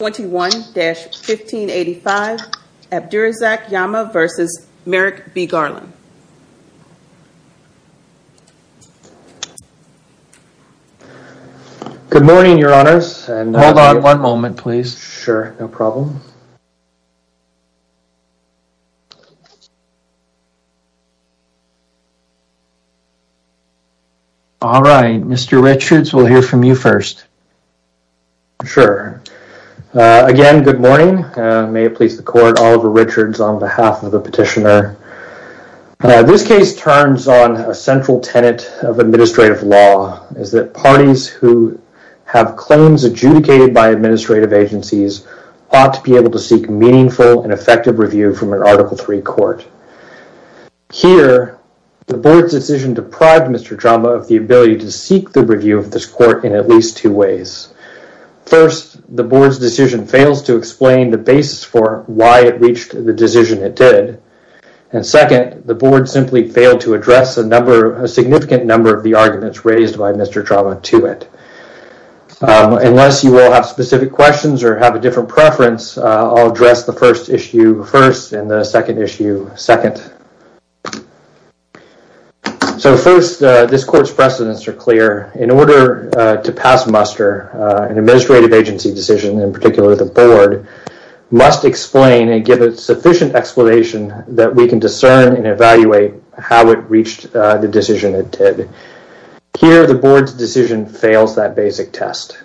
21-1585 Abdirisak Jama v. Merrick B. Garland Good morning, your honors and hold on one moment, please. Sure. No problem All right, mr. Richards we'll hear from you first Sure Again, good morning. May it please the court Oliver Richards on behalf of the petitioner this case turns on a central tenet of administrative law is that parties who Have claims adjudicated by administrative agencies ought to be able to seek meaningful and effective review from an article 3 court Here the board's decision deprived. Mr. Jama of the ability to seek the review of this court in at least two ways first the board's decision fails to explain the basis for why it reached the decision it did and Second the board simply failed to address a number a significant number of the arguments raised by mr. Jama to it Unless you all have specific questions or have a different preference. I'll address the first issue first and the second issue second So first this court's precedents are clear in order to pass muster an administrative agency decision in particular the board Must explain and give a sufficient explanation that we can discern and evaluate how it reached the decision it did Here the board's decision fails that basic test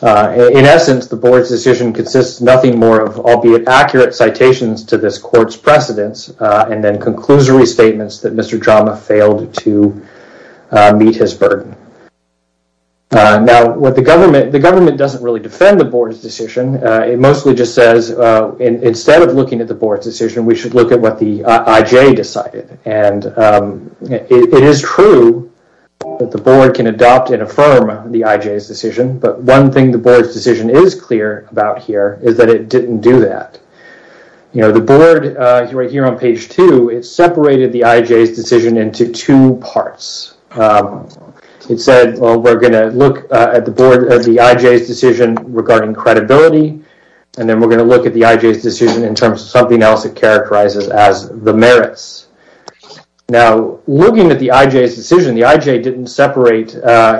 In essence the board's decision consists nothing more of albeit accurate citations to this court's precedents and then conclusory statements that mr. Jama failed to meet his burden Now what the government the government doesn't really defend the board's decision It mostly just says instead of looking at the board's decision. We should look at what the IJ decided and It is true That the board can adopt and affirm the IJ's decision But one thing the board's decision is clear about here is that it didn't do that You know the board right here on page two. It's separated the IJ's decision into two parts It said well, we're gonna look at the board of the IJ's decision regarding credibility And then we're going to look at the IJ's decision in terms of something else. It characterizes as the merits Now looking at the IJ's decision the IJ didn't separate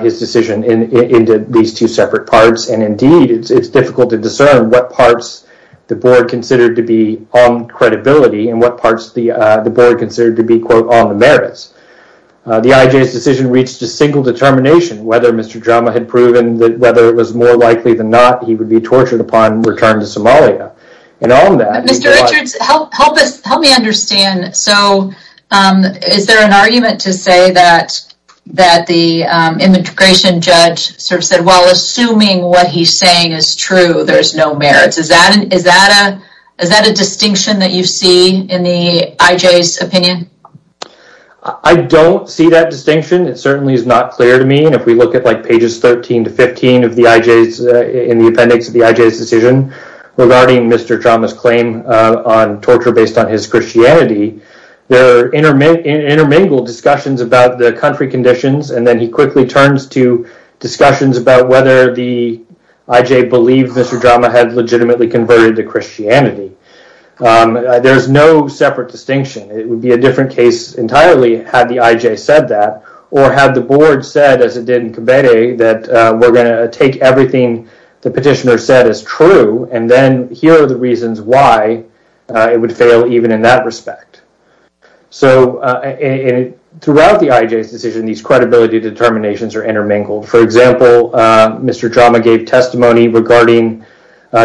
his decision in into these two separate parts and indeed It's difficult to discern what parts the board considered to be on Credibility and what parts the the board considered to be quote on the merits The IJ's decision reached a single determination whether mr Drama had proven that whether it was more likely than not. He would be tortured upon return to Somalia and on that Help help us help me understand so is there an argument to say that that the Immigration judge sort of said well assuming what he's saying is true. There's no merits Is that an is that a is that a distinction that you see in the IJ's opinion? I? Don't see that distinction It certainly is not clear to me and if we look at like pages 13 to 15 of the IJ's in the appendix of the IJ's decision Regarding mr. Drama's claim on torture based on his Christianity there are intermittent intermingled discussions about the country conditions and then he quickly turns to Discussions about whether the IJ believed mr. Drama had legitimately converted to Christianity There's no separate distinction It would be a different case Entirely had the IJ said that or had the board said as it did in cabaret that we're going to take everything The petitioner said is true and then here are the reasons why it would fail even in that respect so Throughout the IJ's decision these credibility determinations are intermingled. For example, mr. Drama gave testimony regarding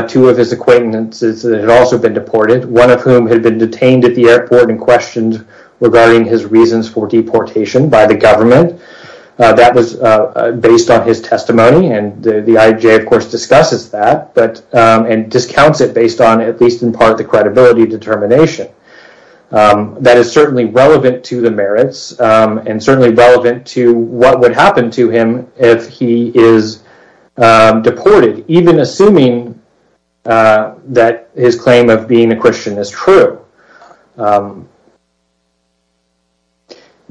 Two of his acquaintances that had also been deported one of whom had been detained at the airport and questioned Regarding his reasons for deportation by the government That was based on his testimony and the IJ of course discusses that but and discounts it based on at least in part the credibility determination That is certainly relevant to the merits and certainly relevant to what would happen to him if he is Deported even assuming that his claim of being a Christian is true The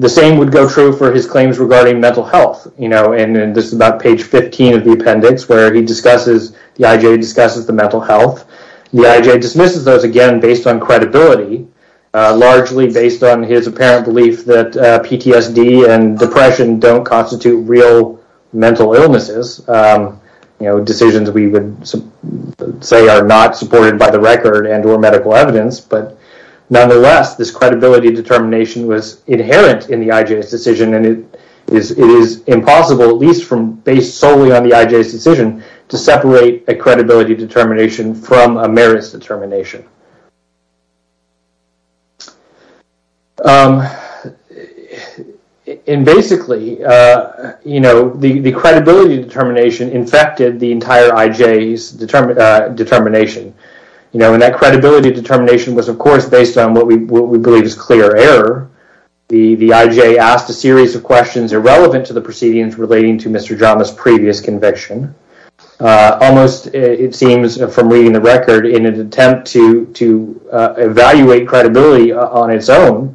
Same would go true for his claims regarding mental health, you know And this is about page 15 of the appendix where he discusses the IJ discusses the mental health The IJ dismisses those again based on credibility Largely based on his apparent belief that PTSD and depression don't constitute real mental illnesses you know decisions we would Say are not supported by the record and or medical evidence But nonetheless this credibility determination was inherent in the IJ's decision And it is it is impossible at least from based solely on the IJ's decision to separate a credibility determination from a merits determination In basically You know the the credibility determination infected the entire IJ's Determination, you know and that credibility determination was of course based on what we believe is clear error The the IJ asked a series of questions irrelevant to the proceedings relating to mr. Drama's previous conviction almost it seems from reading the record in an attempt to to evaluate credibility on its own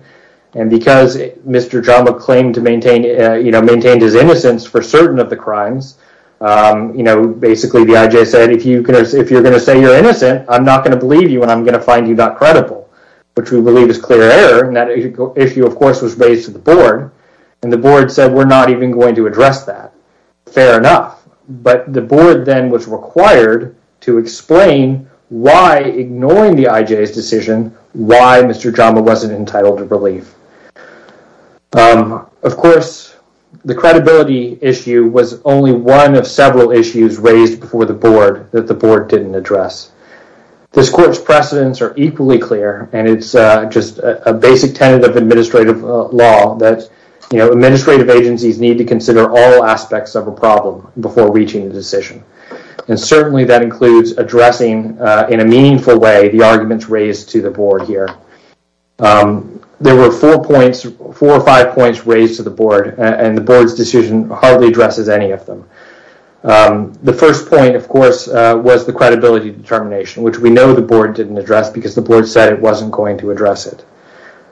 and Because mr. Drama claimed to maintain, you know maintained his innocence for certain of the crimes You know, basically the IJ said if you can if you're gonna say you're innocent I'm not gonna believe you and I'm gonna find you not credible Which we believe is clear error and that issue of course was raised to the board and the board said we're not even going to Address that fair enough But the board then was required to explain why ignoring the IJ's decision Why mr. Drama wasn't entitled to relief Of course The credibility issue was only one of several issues raised before the board that the board didn't address This court's precedents are equally clear and it's just a basic tenet of administrative law that you know administrative agencies need to consider all aspects of a problem before reaching the decision and That includes addressing in a meaningful way the arguments raised to the board here There were four points four or five points raised to the board and the board's decision hardly addresses any of them The first point of course was the credibility determination Which we know the board didn't address because the board said it wasn't going to address it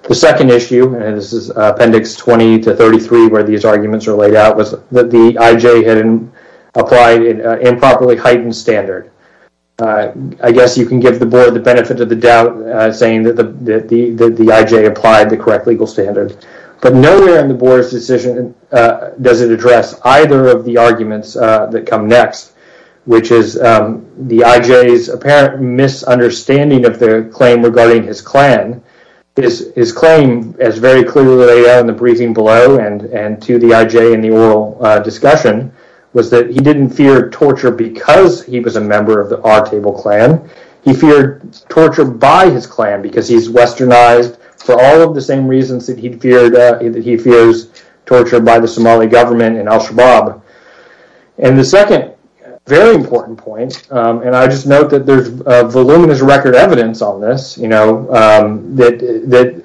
The second issue and this is appendix 20 to 33 where these arguments are laid out was that the IJ had Applied an improperly heightened standard I guess you can give the board the benefit of the doubt saying that the that the the IJ applied the correct legal standard But nowhere in the board's decision Does it address either of the arguments that come next which is the IJ's apparent? misunderstanding of their claim regarding his clan This is claim as very clearly on the briefing below and and to the IJ in the oral discussion Was that he didn't fear torture because he was a member of the odd table clan He feared torture by his clan because he's westernized for all of the same reasons that he'd feared He fears torture by the Somali government in Al-Shabaab And the second very important point and I just note that there's voluminous record evidence on this, you know that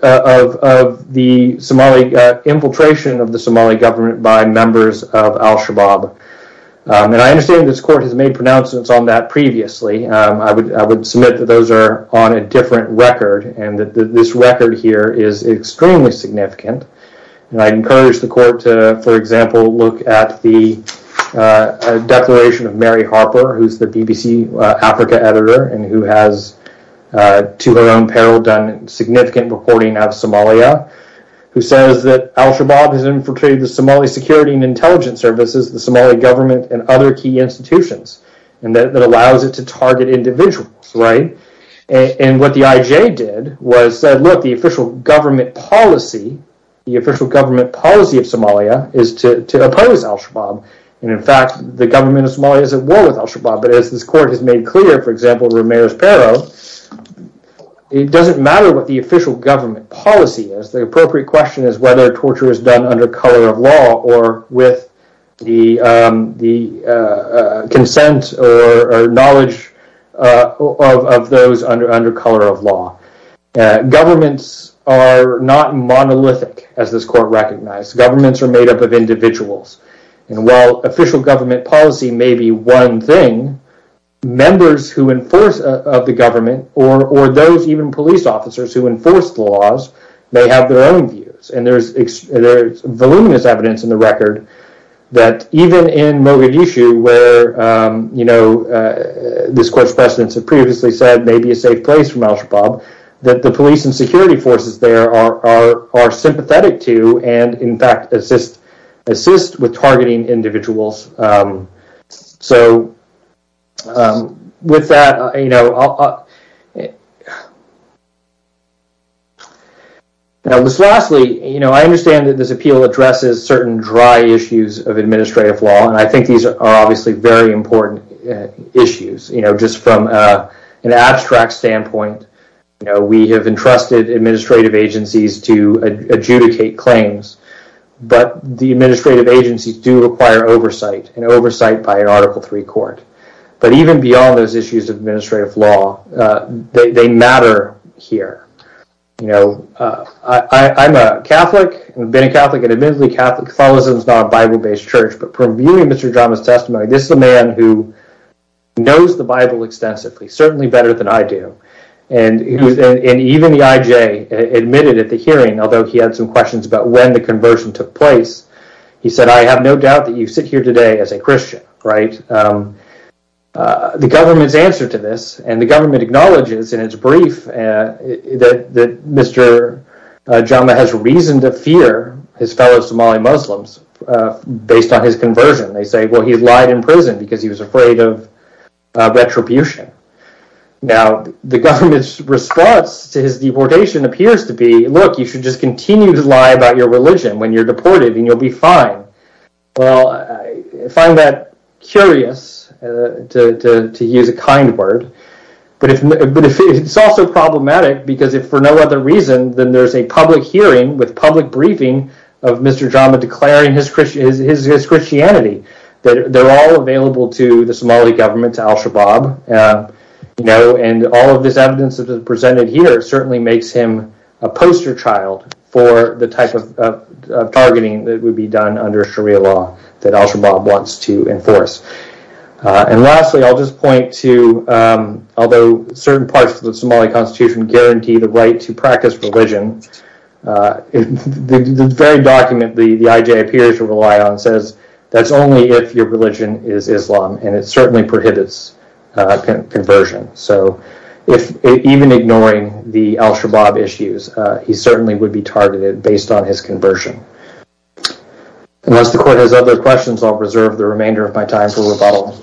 the Somali Infiltration of the Somali government by members of Al-Shabaab And I understand this court has made pronouncements on that previously I would I would submit that those are on a different record and that this record here is extremely significant and I encourage the court to for example, look at the Declaration of Mary Harper who's the BBC Africa editor and who has To her own peril done significant reporting of Somalia who says that Al-Shabaab has infiltrated the Somali security and intelligence services the Somali government and other key institutions and That allows it to target individuals, right? And what the IJ did was said look the official government policy The official government policy of Somalia is to oppose Al-Shabaab And in fact, the government of Somalia is at war with Al-Shabaab, but as this court has made clear for example Ramirez Perro It doesn't matter what the official government policy is the appropriate question is whether torture is done under color of law or with the the consent or knowledge Of those under under color of law Governments are not monolithic as this court recognized governments are made up of individuals And while official government policy may be one thing Members who enforce of the government or or those even police officers who enforce the laws They have their own views and there's there's voluminous evidence in the record that even in Mogadishu where you know This court's precedents have previously said may be a safe place from Al-Shabaab that the police and security forces There are are sympathetic to and in fact assist assist with targeting individuals so With that, you know Now this lastly, you know, I understand that this appeal addresses certain dry issues of administrative law and I think these are obviously very important Issues, you know just from an abstract standpoint, you know, we have entrusted administrative agencies to adjudicate claims But the administrative agencies do require oversight and oversight by an article 3 court But even beyond those issues of administrative law They matter here, you know I'm a Catholic and been a Catholic and admittedly Catholic follows. It was not a Bible based church, but from viewing. Mr. Drama's testimony this is a man who knows the Bible extensively certainly better than I do and Even the IJ admitted at the hearing although he had some questions about when the conversion took place He said I have no doubt that you sit here today as a Christian, right? The government's answer to this and the government acknowledges in its brief and that that mr Drama has reason to fear his fellow Somali Muslims Based on his conversion. They say well he's lied in prison because he was afraid of retribution Now the government's response to his deportation appears to be look You should just continue to lie about your religion when you're deported and you'll be fine Well, I find that curious To use a kind word But it's also problematic because if for no other reason then there's a public hearing with public briefing of mr Drama declaring his Christian is his Christianity that they're all available to the Somali government to Al Shabaab you know and all of this evidence that is presented here certainly makes him a poster child for the type of Targeting that would be done under Sharia law that Al Shabaab wants to enforce and lastly, I'll just point to Although certain parts of the Somali Constitution guarantee the right to practice religion In the very document the the IJ appears to rely on says that's only if your religion is Islam and it certainly prohibits Conversion so if even ignoring the Al Shabaab issues, he certainly would be targeted based on his conversion And as the court has other questions, I'll preserve the remainder of my time for rebuttal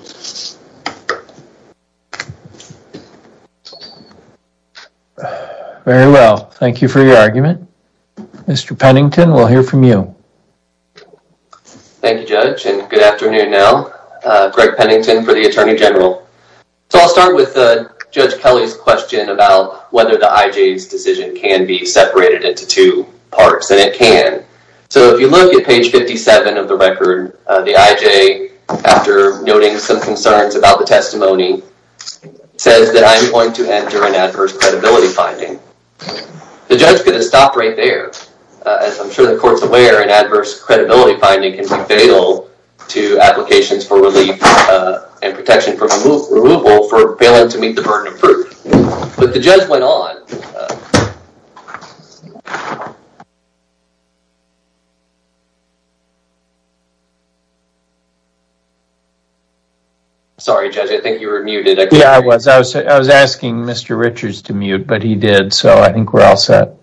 Very well, thank you for your argument. Mr. Pennington. We'll hear from you Thank you judge and good afternoon now Greg Pennington for the Attorney General So I'll start with the judge Kelly's question about whether the IJ's decision can be separated into two parts and it can So if you look at page 57 of the record the IJ After noting some concerns about the testimony Says that I'm going to enter an adverse credibility finding The judge could have stopped right there As I'm sure the court's aware an adverse credibility finding can be fatal to applications for relief And protection from removal for failing to meet the burden of proof, but the judge went on Sorry judge, I think you were muted. Yeah, I was I was asking mr. Richards to mute, but he did so I think we're all set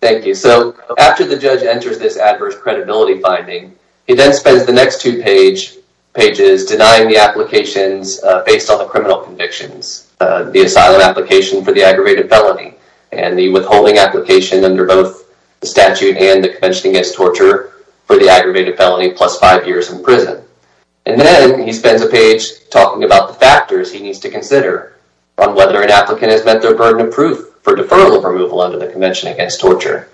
Thank you, so after the judge enters this adverse credibility finding he then spends the next two page Pages denying the applications based on the criminal convictions The asylum application for the aggravated felony and the withholding application of the criminal conviction Statute and the convention against torture for the aggravated felony plus five years in prison And then he spends a page talking about the factors He needs to consider on whether an applicant has met their burden of proof for deferral of removal under the Convention Against Torture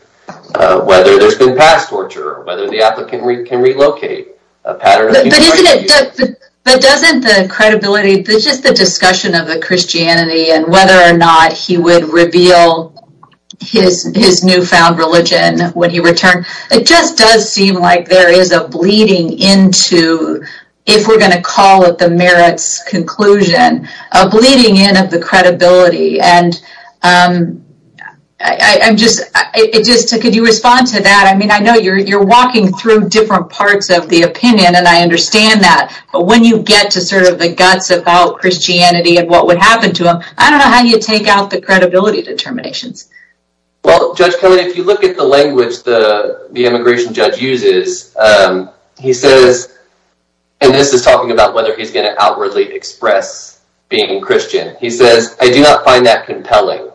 Whether there's been past torture whether the applicant can relocate But doesn't the credibility this is the discussion of the Christianity and whether or not he would reveal His his newfound religion when he returned it just does seem like there is a bleeding into if we're going to call it the merits conclusion a bleeding in of the credibility and I'm just it just could you respond to that? I mean, I know you're you're walking through different parts of the opinion and I understand that but when you get to sort of the guts Christianity and what would happen to him? I don't know how you take out the credibility determinations Well judge Kelly if you look at the language the the immigration judge uses He says and this is talking about whether he's going to outwardly express being Christian He says I do not find that compelling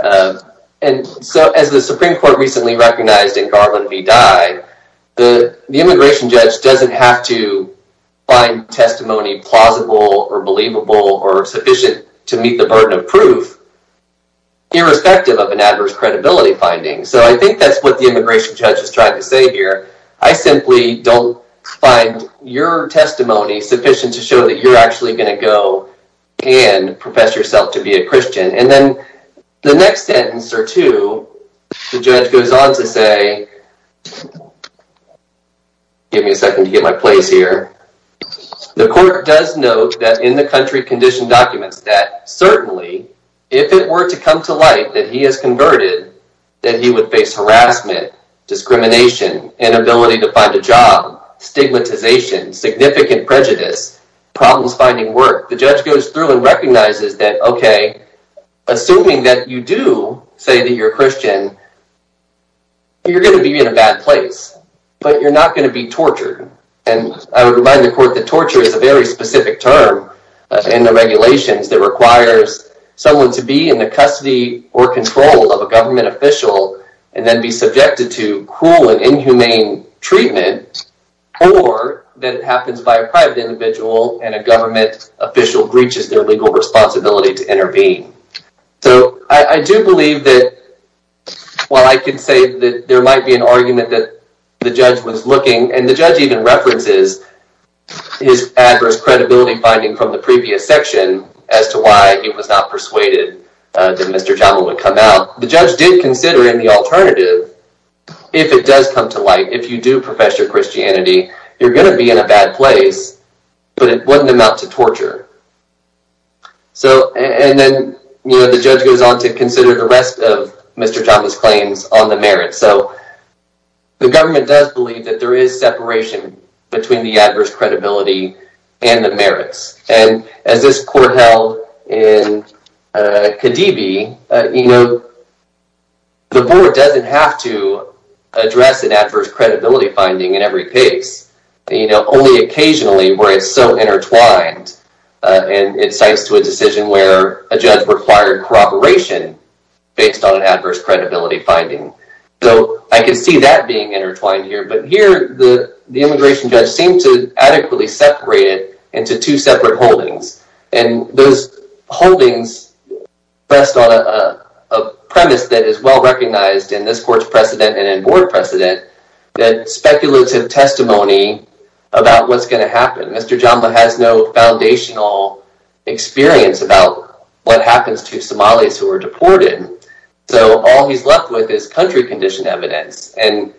and so as the Supreme Court recently recognized in Garland v. Dye the immigration judge doesn't have to Find testimony plausible or believable or sufficient to meet the burden of proof Irrespective of an adverse credibility finding so I think that's what the immigration judge is trying to say here I simply don't find your testimony sufficient to show that you're actually going to go And profess yourself to be a Christian and then the next sentence or two the judge goes on to say Give me a second to get my place here The court does note that in the country condition documents that certainly if it were to come to light that he has converted That he would face harassment discrimination inability to find a job Stigmatization significant prejudice problems finding work. The judge goes through and recognizes that okay Assuming that you do say that you're Christian You're gonna be in a bad place But you're not going to be tortured and I would remind the court that torture is a very specific term in the regulations that requires Someone to be in the custody or control of a government official and then be subjected to cruel and inhumane treatment or That it happens by a private individual and a government official breaches their legal responsibility to intervene so I do believe that While I can say that there might be an argument that the judge was looking and the judge even references His adverse credibility finding from the previous section as to why it was not persuaded That mr. Jawa would come out the judge did consider in the alternative If it does come to light if you do profess your Christianity, you're gonna be in a bad place But it wouldn't amount to torture So and then, you know, the judge goes on to consider the rest of mr. Thomas claims on the merit so the government does believe that there is separation between the adverse credibility and the merits and as this court held in Khadibi, you know The board doesn't have to Address an adverse credibility finding in every case, you know only occasionally where it's so intertwined And it cites to a decision where a judge required corroboration Based on an adverse credibility finding so I can see that being intertwined here but here the the immigration judge seemed to adequately separate it into two separate holdings and those holdings best on a Premise that is well recognized in this court's precedent and in board precedent that speculative testimony About what's going to happen? Mr. Jamba has no foundational Experience about what happens to Somalis who are deported. So all he's left with is country condition evidence and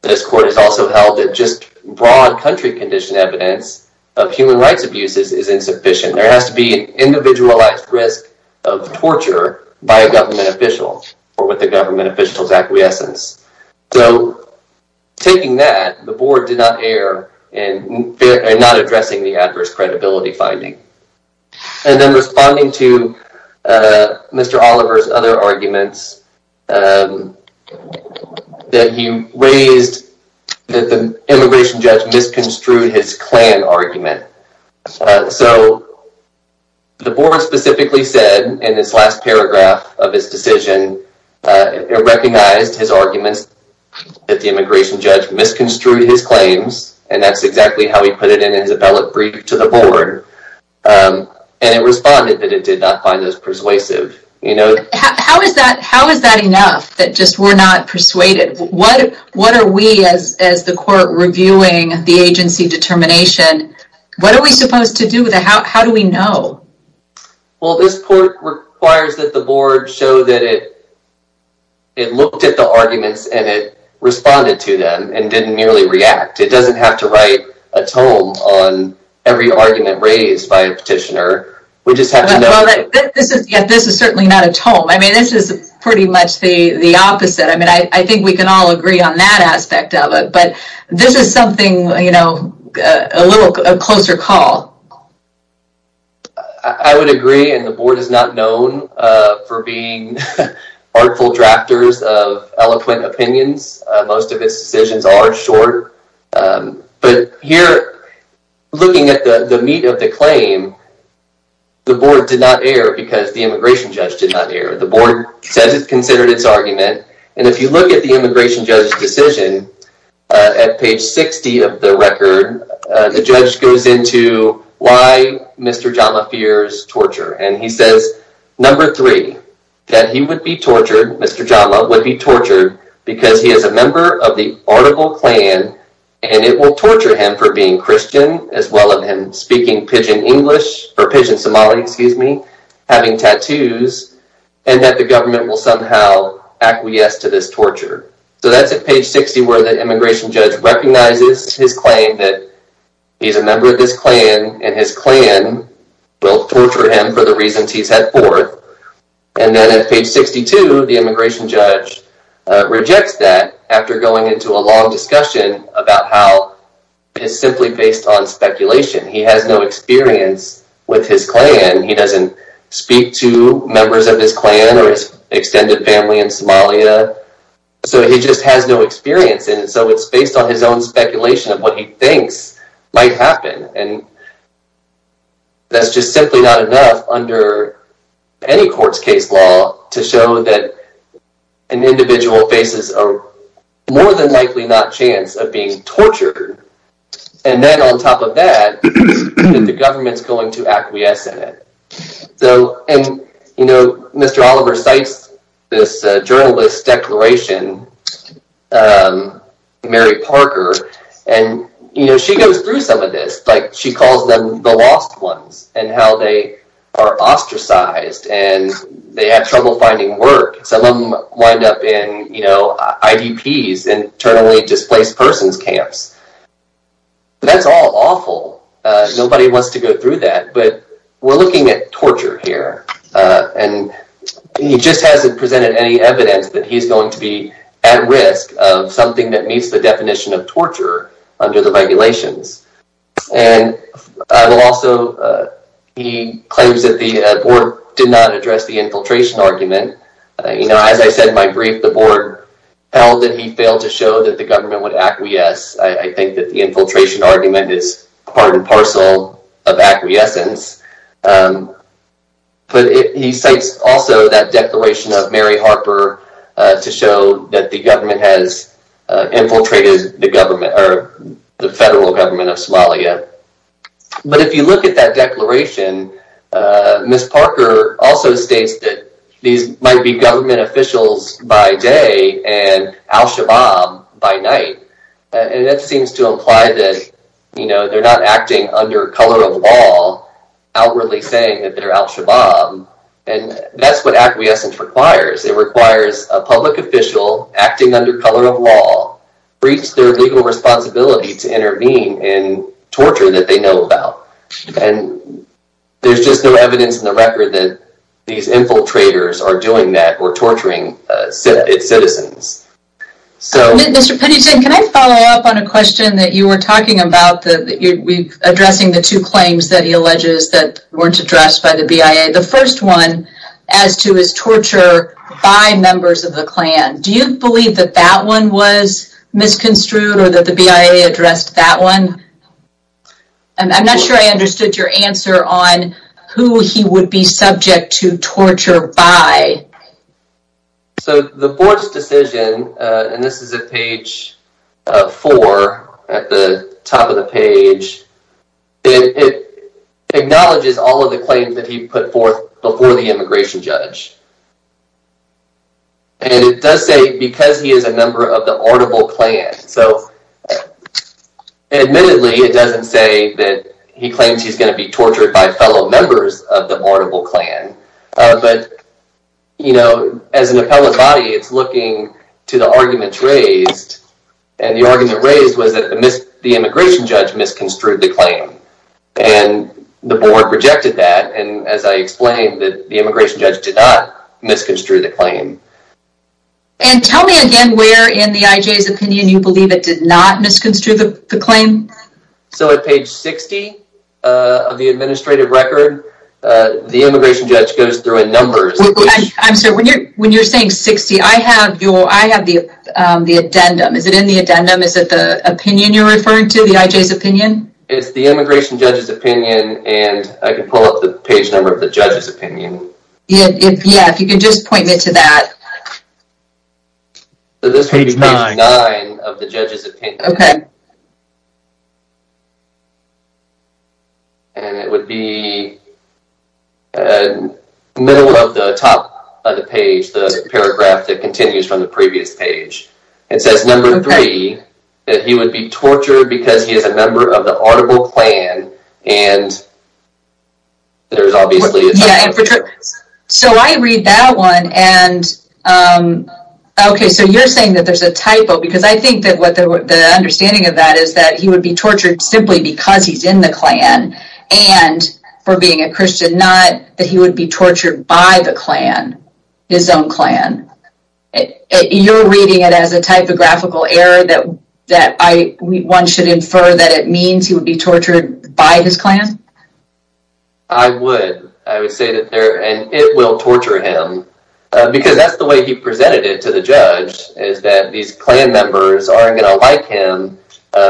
This court is also held at just broad country condition evidence of human rights abuses is insufficient There has to be an individualized risk of torture by a government official or with the government officials acquiescence so Taking that the board did not err and Not addressing the adverse credibility finding and then responding to Mr. Oliver's other arguments That he raised that the immigration judge misconstrued his clan argument so The board specifically said in this last paragraph of his decision It recognized his arguments That the immigration judge misconstrued his claims and that's exactly how he put it in his appellate brief to the board And it responded that it did not find those persuasive, you know, how is that? How is that enough that just we're not persuaded? What what are we as as the court reviewing the agency determination? What are we supposed to do with it? How do we know? Well, this court requires that the board show that it It looked at the arguments and it responded to them and didn't nearly react It doesn't have to write a tome on every argument raised by a petitioner. We just have to know This is certainly not a tome. I mean, this is pretty much the the opposite I mean, I think we can all agree on that aspect of it, but this is something you know a little closer call I would agree and the board is not known for being Artful drafters of eloquent opinions. Most of its decisions are short but here Looking at the the meat of the claim The board did not air because the immigration judge did not hear the board says it considered its argument And if you look at the immigration judge decision At page 60 of the record the judge goes into why? Mr. Jama fears torture and he says number three that he would be tortured. Mr Jama would be tortured because he is a member of the article clan and it will torture him for being Christian as well of him speaking pidgin English for pigeon Somali, excuse me having tattoos and that the government will somehow acquiesce to this torture So that's at page 60 where the immigration judge recognizes his claim that he's a member of this clan and his clan Will torture him for the reasons he's had forth and then at page 62 the immigration judge rejects that after going into a long discussion about how It's simply based on speculation. He has no experience with his clan He doesn't speak to members of his clan or his extended family in Somalia so he just has no experience and so it's based on his own speculation of what he thinks might happen and That's just simply not enough under any courts case law to show that an individual faces a More than likely not chance of being tortured and then on top of that The government's going to acquiesce in it. So and you know, mr. Oliver cites this journalist declaration Mary Parker and you know, she goes through some of this like she calls them the lost ones and how they are Ostracized and they have trouble finding work some of them wind up in you know IDPs and internally displaced persons camps That's all awful Nobody wants to go through that but we're looking at torture here And he just hasn't presented any evidence that he's going to be at risk of something that meets the definition of torture under the regulations and I will also He claims that the board did not address the infiltration argument, you know As I said my brief the board held that he failed to show that the government would acquiesce I think that the infiltration argument is part and parcel of acquiescence But He cites also that declaration of Mary Harper to show that the government has infiltrated the government or the federal government of Somalia But if you look at that declaration Miss Parker also states that these might be government officials by day and al-shabaab By night and that seems to imply that you know, they're not acting under color of law Outwardly saying that they're al-shabaab and that's what acquiescence requires It requires a public official acting under color of law breach their legal responsibility to intervene in torture that they know about and There's just no evidence in the record that these infiltrators are doing that or torturing its citizens So mr. Pettiton, can I follow up on a question that you were talking about that? Addressing the two claims that he alleges that weren't addressed by the BIA the first one as to his torture By members of the Klan, do you believe that that one was? misconstrued or that the BIA addressed that one and I'm not sure. I understood your answer on who he would be subject to torture by So the board's decision and this is a page Four at the top of the page it Acknowledges all of the claims that he put forth before the immigration judge And it does say because he is a member of the audible Klan so Admittedly, it doesn't say that he claims he's going to be tortured by fellow members of the audible Klan but You know as an appellate body. It's looking to the arguments raised and the argument raised was that the immigration judge misconstrued the claim and The board rejected that and as I explained that the immigration judge did not misconstrued the claim And tell me again where in the IJ's opinion you believe it did not misconstrue the claim so at page 60 of the administrative record The immigration judge goes through in numbers. I'm sorry when you're when you're saying 60 I have you I have the the addendum. Is it in the addendum? Is that the opinion you're referring to the IJ's opinion? It's the immigration judge's opinion and I can pull up the page number of the judge's opinion Yeah, if you can just point me to that This is page 9 of the judge's opinion And it would be In the middle of the top of the page the paragraph that continues from the previous page it says number three that he would be tortured because he is a member of the audible Klan and So I read that one and Okay, so you're saying that there's a typo because I think that what the understanding of that is that he would be tortured simply because he's in the Klan and For being a Christian not that he would be tortured by the Klan his own clan You're reading it as a typographical error that that I one should infer that it means he would be tortured by this Klan. I would I would say that there and it will torture him Because that's the way he presented it to the judge is that these Klan members aren't gonna like him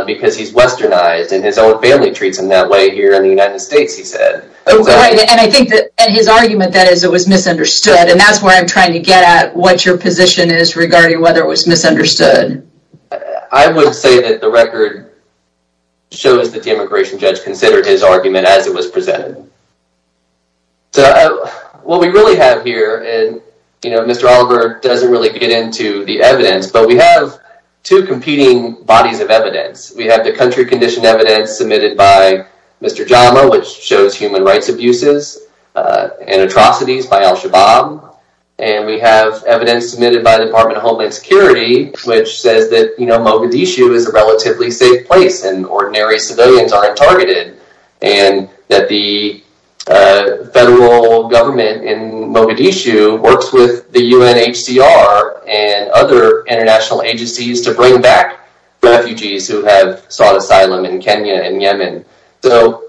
Because he's westernized and his own family treats him that way here in the United States he said And I think that his argument that is it was misunderstood and that's where I'm trying to get at what your position is regarding whether It was misunderstood. I would say that the record Shows that the immigration judge considered his argument as it was presented So what we really have here and you know, Mr. Oliver doesn't really get into the evidence But we have two competing bodies of evidence. We have the country condition evidence submitted by Mr. Jama Which shows human rights abuses and atrocities by Al-Shabaab and we have evidence submitted by the Department of Homeland Security which says that you know Mogadishu is a relatively safe place and ordinary civilians aren't targeted and that the Federal government in Mogadishu works with the UNHCR and other international agencies to bring back refugees who have sought asylum in Kenya and Yemen, so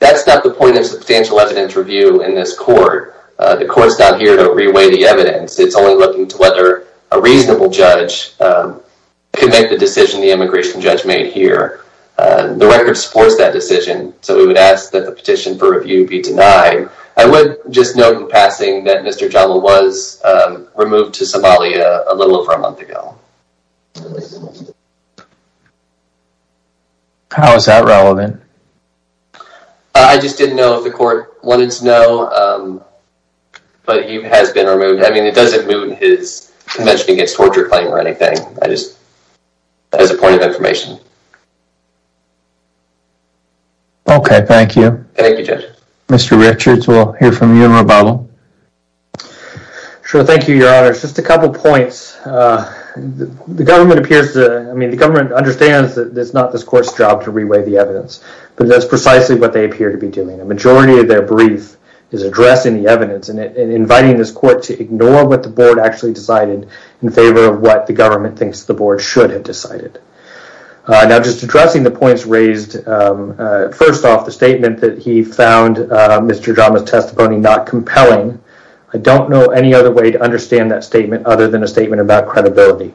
That's not the point of substantial evidence review in this court. The court's not here to re-weigh the evidence It's only looking to whether a reasonable judge Can make the decision the immigration judge made here The record supports that decision so we would ask that the petition for review be denied I would just note in passing that Mr. Jama was Removed to Somalia a little over a month ago How is that relevant? I just didn't know if the court wanted to know But he has been removed. I mean it doesn't move his Convention Against Torture claim or anything. I just as a point of information Okay, thank you, Mr. Richards, we'll hear from you in rebuttal Sure, thank you your honor just a couple points The government appears to I mean the government understands that it's not this court's job to re-weigh the evidence But that's precisely what they appear to be doing a majority of their brief Is addressing the evidence and inviting this court to ignore what the board actually decided in favor of what the government thinks the board should have decided Now just addressing the points raised First off the statement that he found Mr. Jama's testimony not compelling I don't know any other way to understand that statement other than a statement about credibility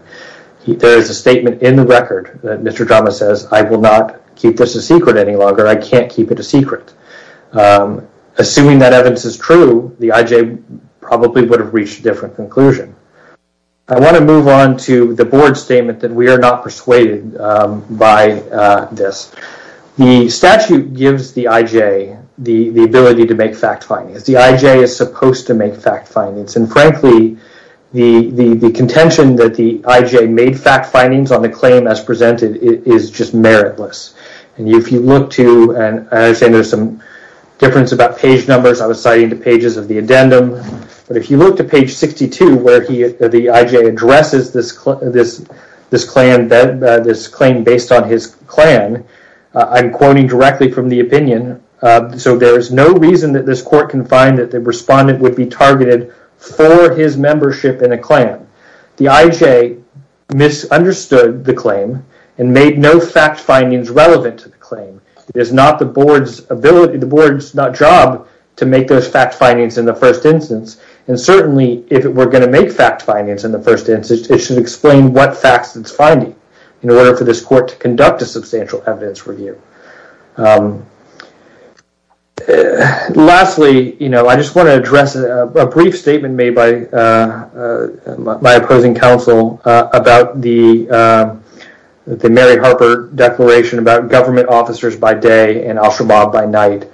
There is a statement in the record that Mr. Jama says I will not keep this a secret any longer. I can't keep it a secret Assuming that evidence is true the IJ probably would have reached different conclusion I want to move on to the board statement that we are not persuaded by this The statute gives the IJ the the ability to make fact findings. The IJ is supposed to make fact findings and frankly The the the contention that the IJ made fact findings on the claim as presented is just meritless And if you look to and I say there's some difference about page numbers I was citing two pages of the addendum But if you look to page 62 where he the IJ addresses this this this claim that this claim based on his clan I'm quoting directly from the opinion So there is no reason that this court can find that the respondent would be targeted for his membership in a clan the IJ Misunderstood the claim and made no fact findings relevant to the claim It's not the board's ability the board's not job to make those fact findings in the first instance and Certainly if it were going to make fact findings in the first instance It should explain what facts it's finding in order for this court to conduct a substantial evidence review Lastly, you know, I just want to address a brief statement made by my opposing counsel about the Mary Harper declaration about government officers by day and Al Shabaab by night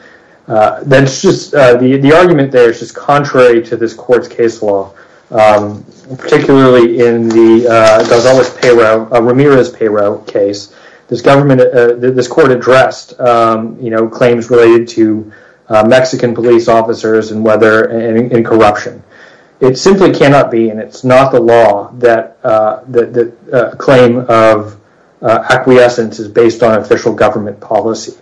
That's just the the argument. There's just contrary to this court's case law Particularly in the Gonzalez payroll Ramirez payroll case this government this court addressed, you know claims related to Mexican police officers and whether and in corruption it simply cannot be and it's not the law that the claim of Acquiescence is based on official government policy.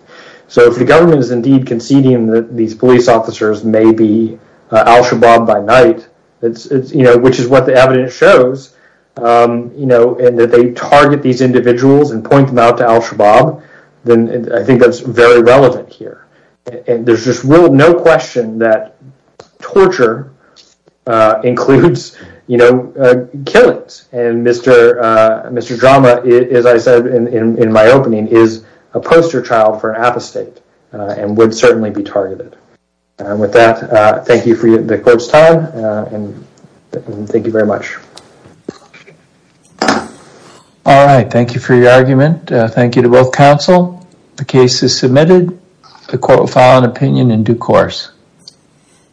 So if the government is indeed conceding that these police officers may be Al Shabaab by night, it's it's you know, which is what the evidence shows You know and that they target these individuals and point them out to Al Shabaab Then I think that's very relevant here. And there's just real no question that torture includes, you know Killings and Mr. Mr. Drama is I said in my opening is a poster child for an apostate and would certainly be targeted with that, thank you for the court's time and Thank you very much All right, thank you for your argument thank you to both counsel the case is submitted the court will file an opinion in due course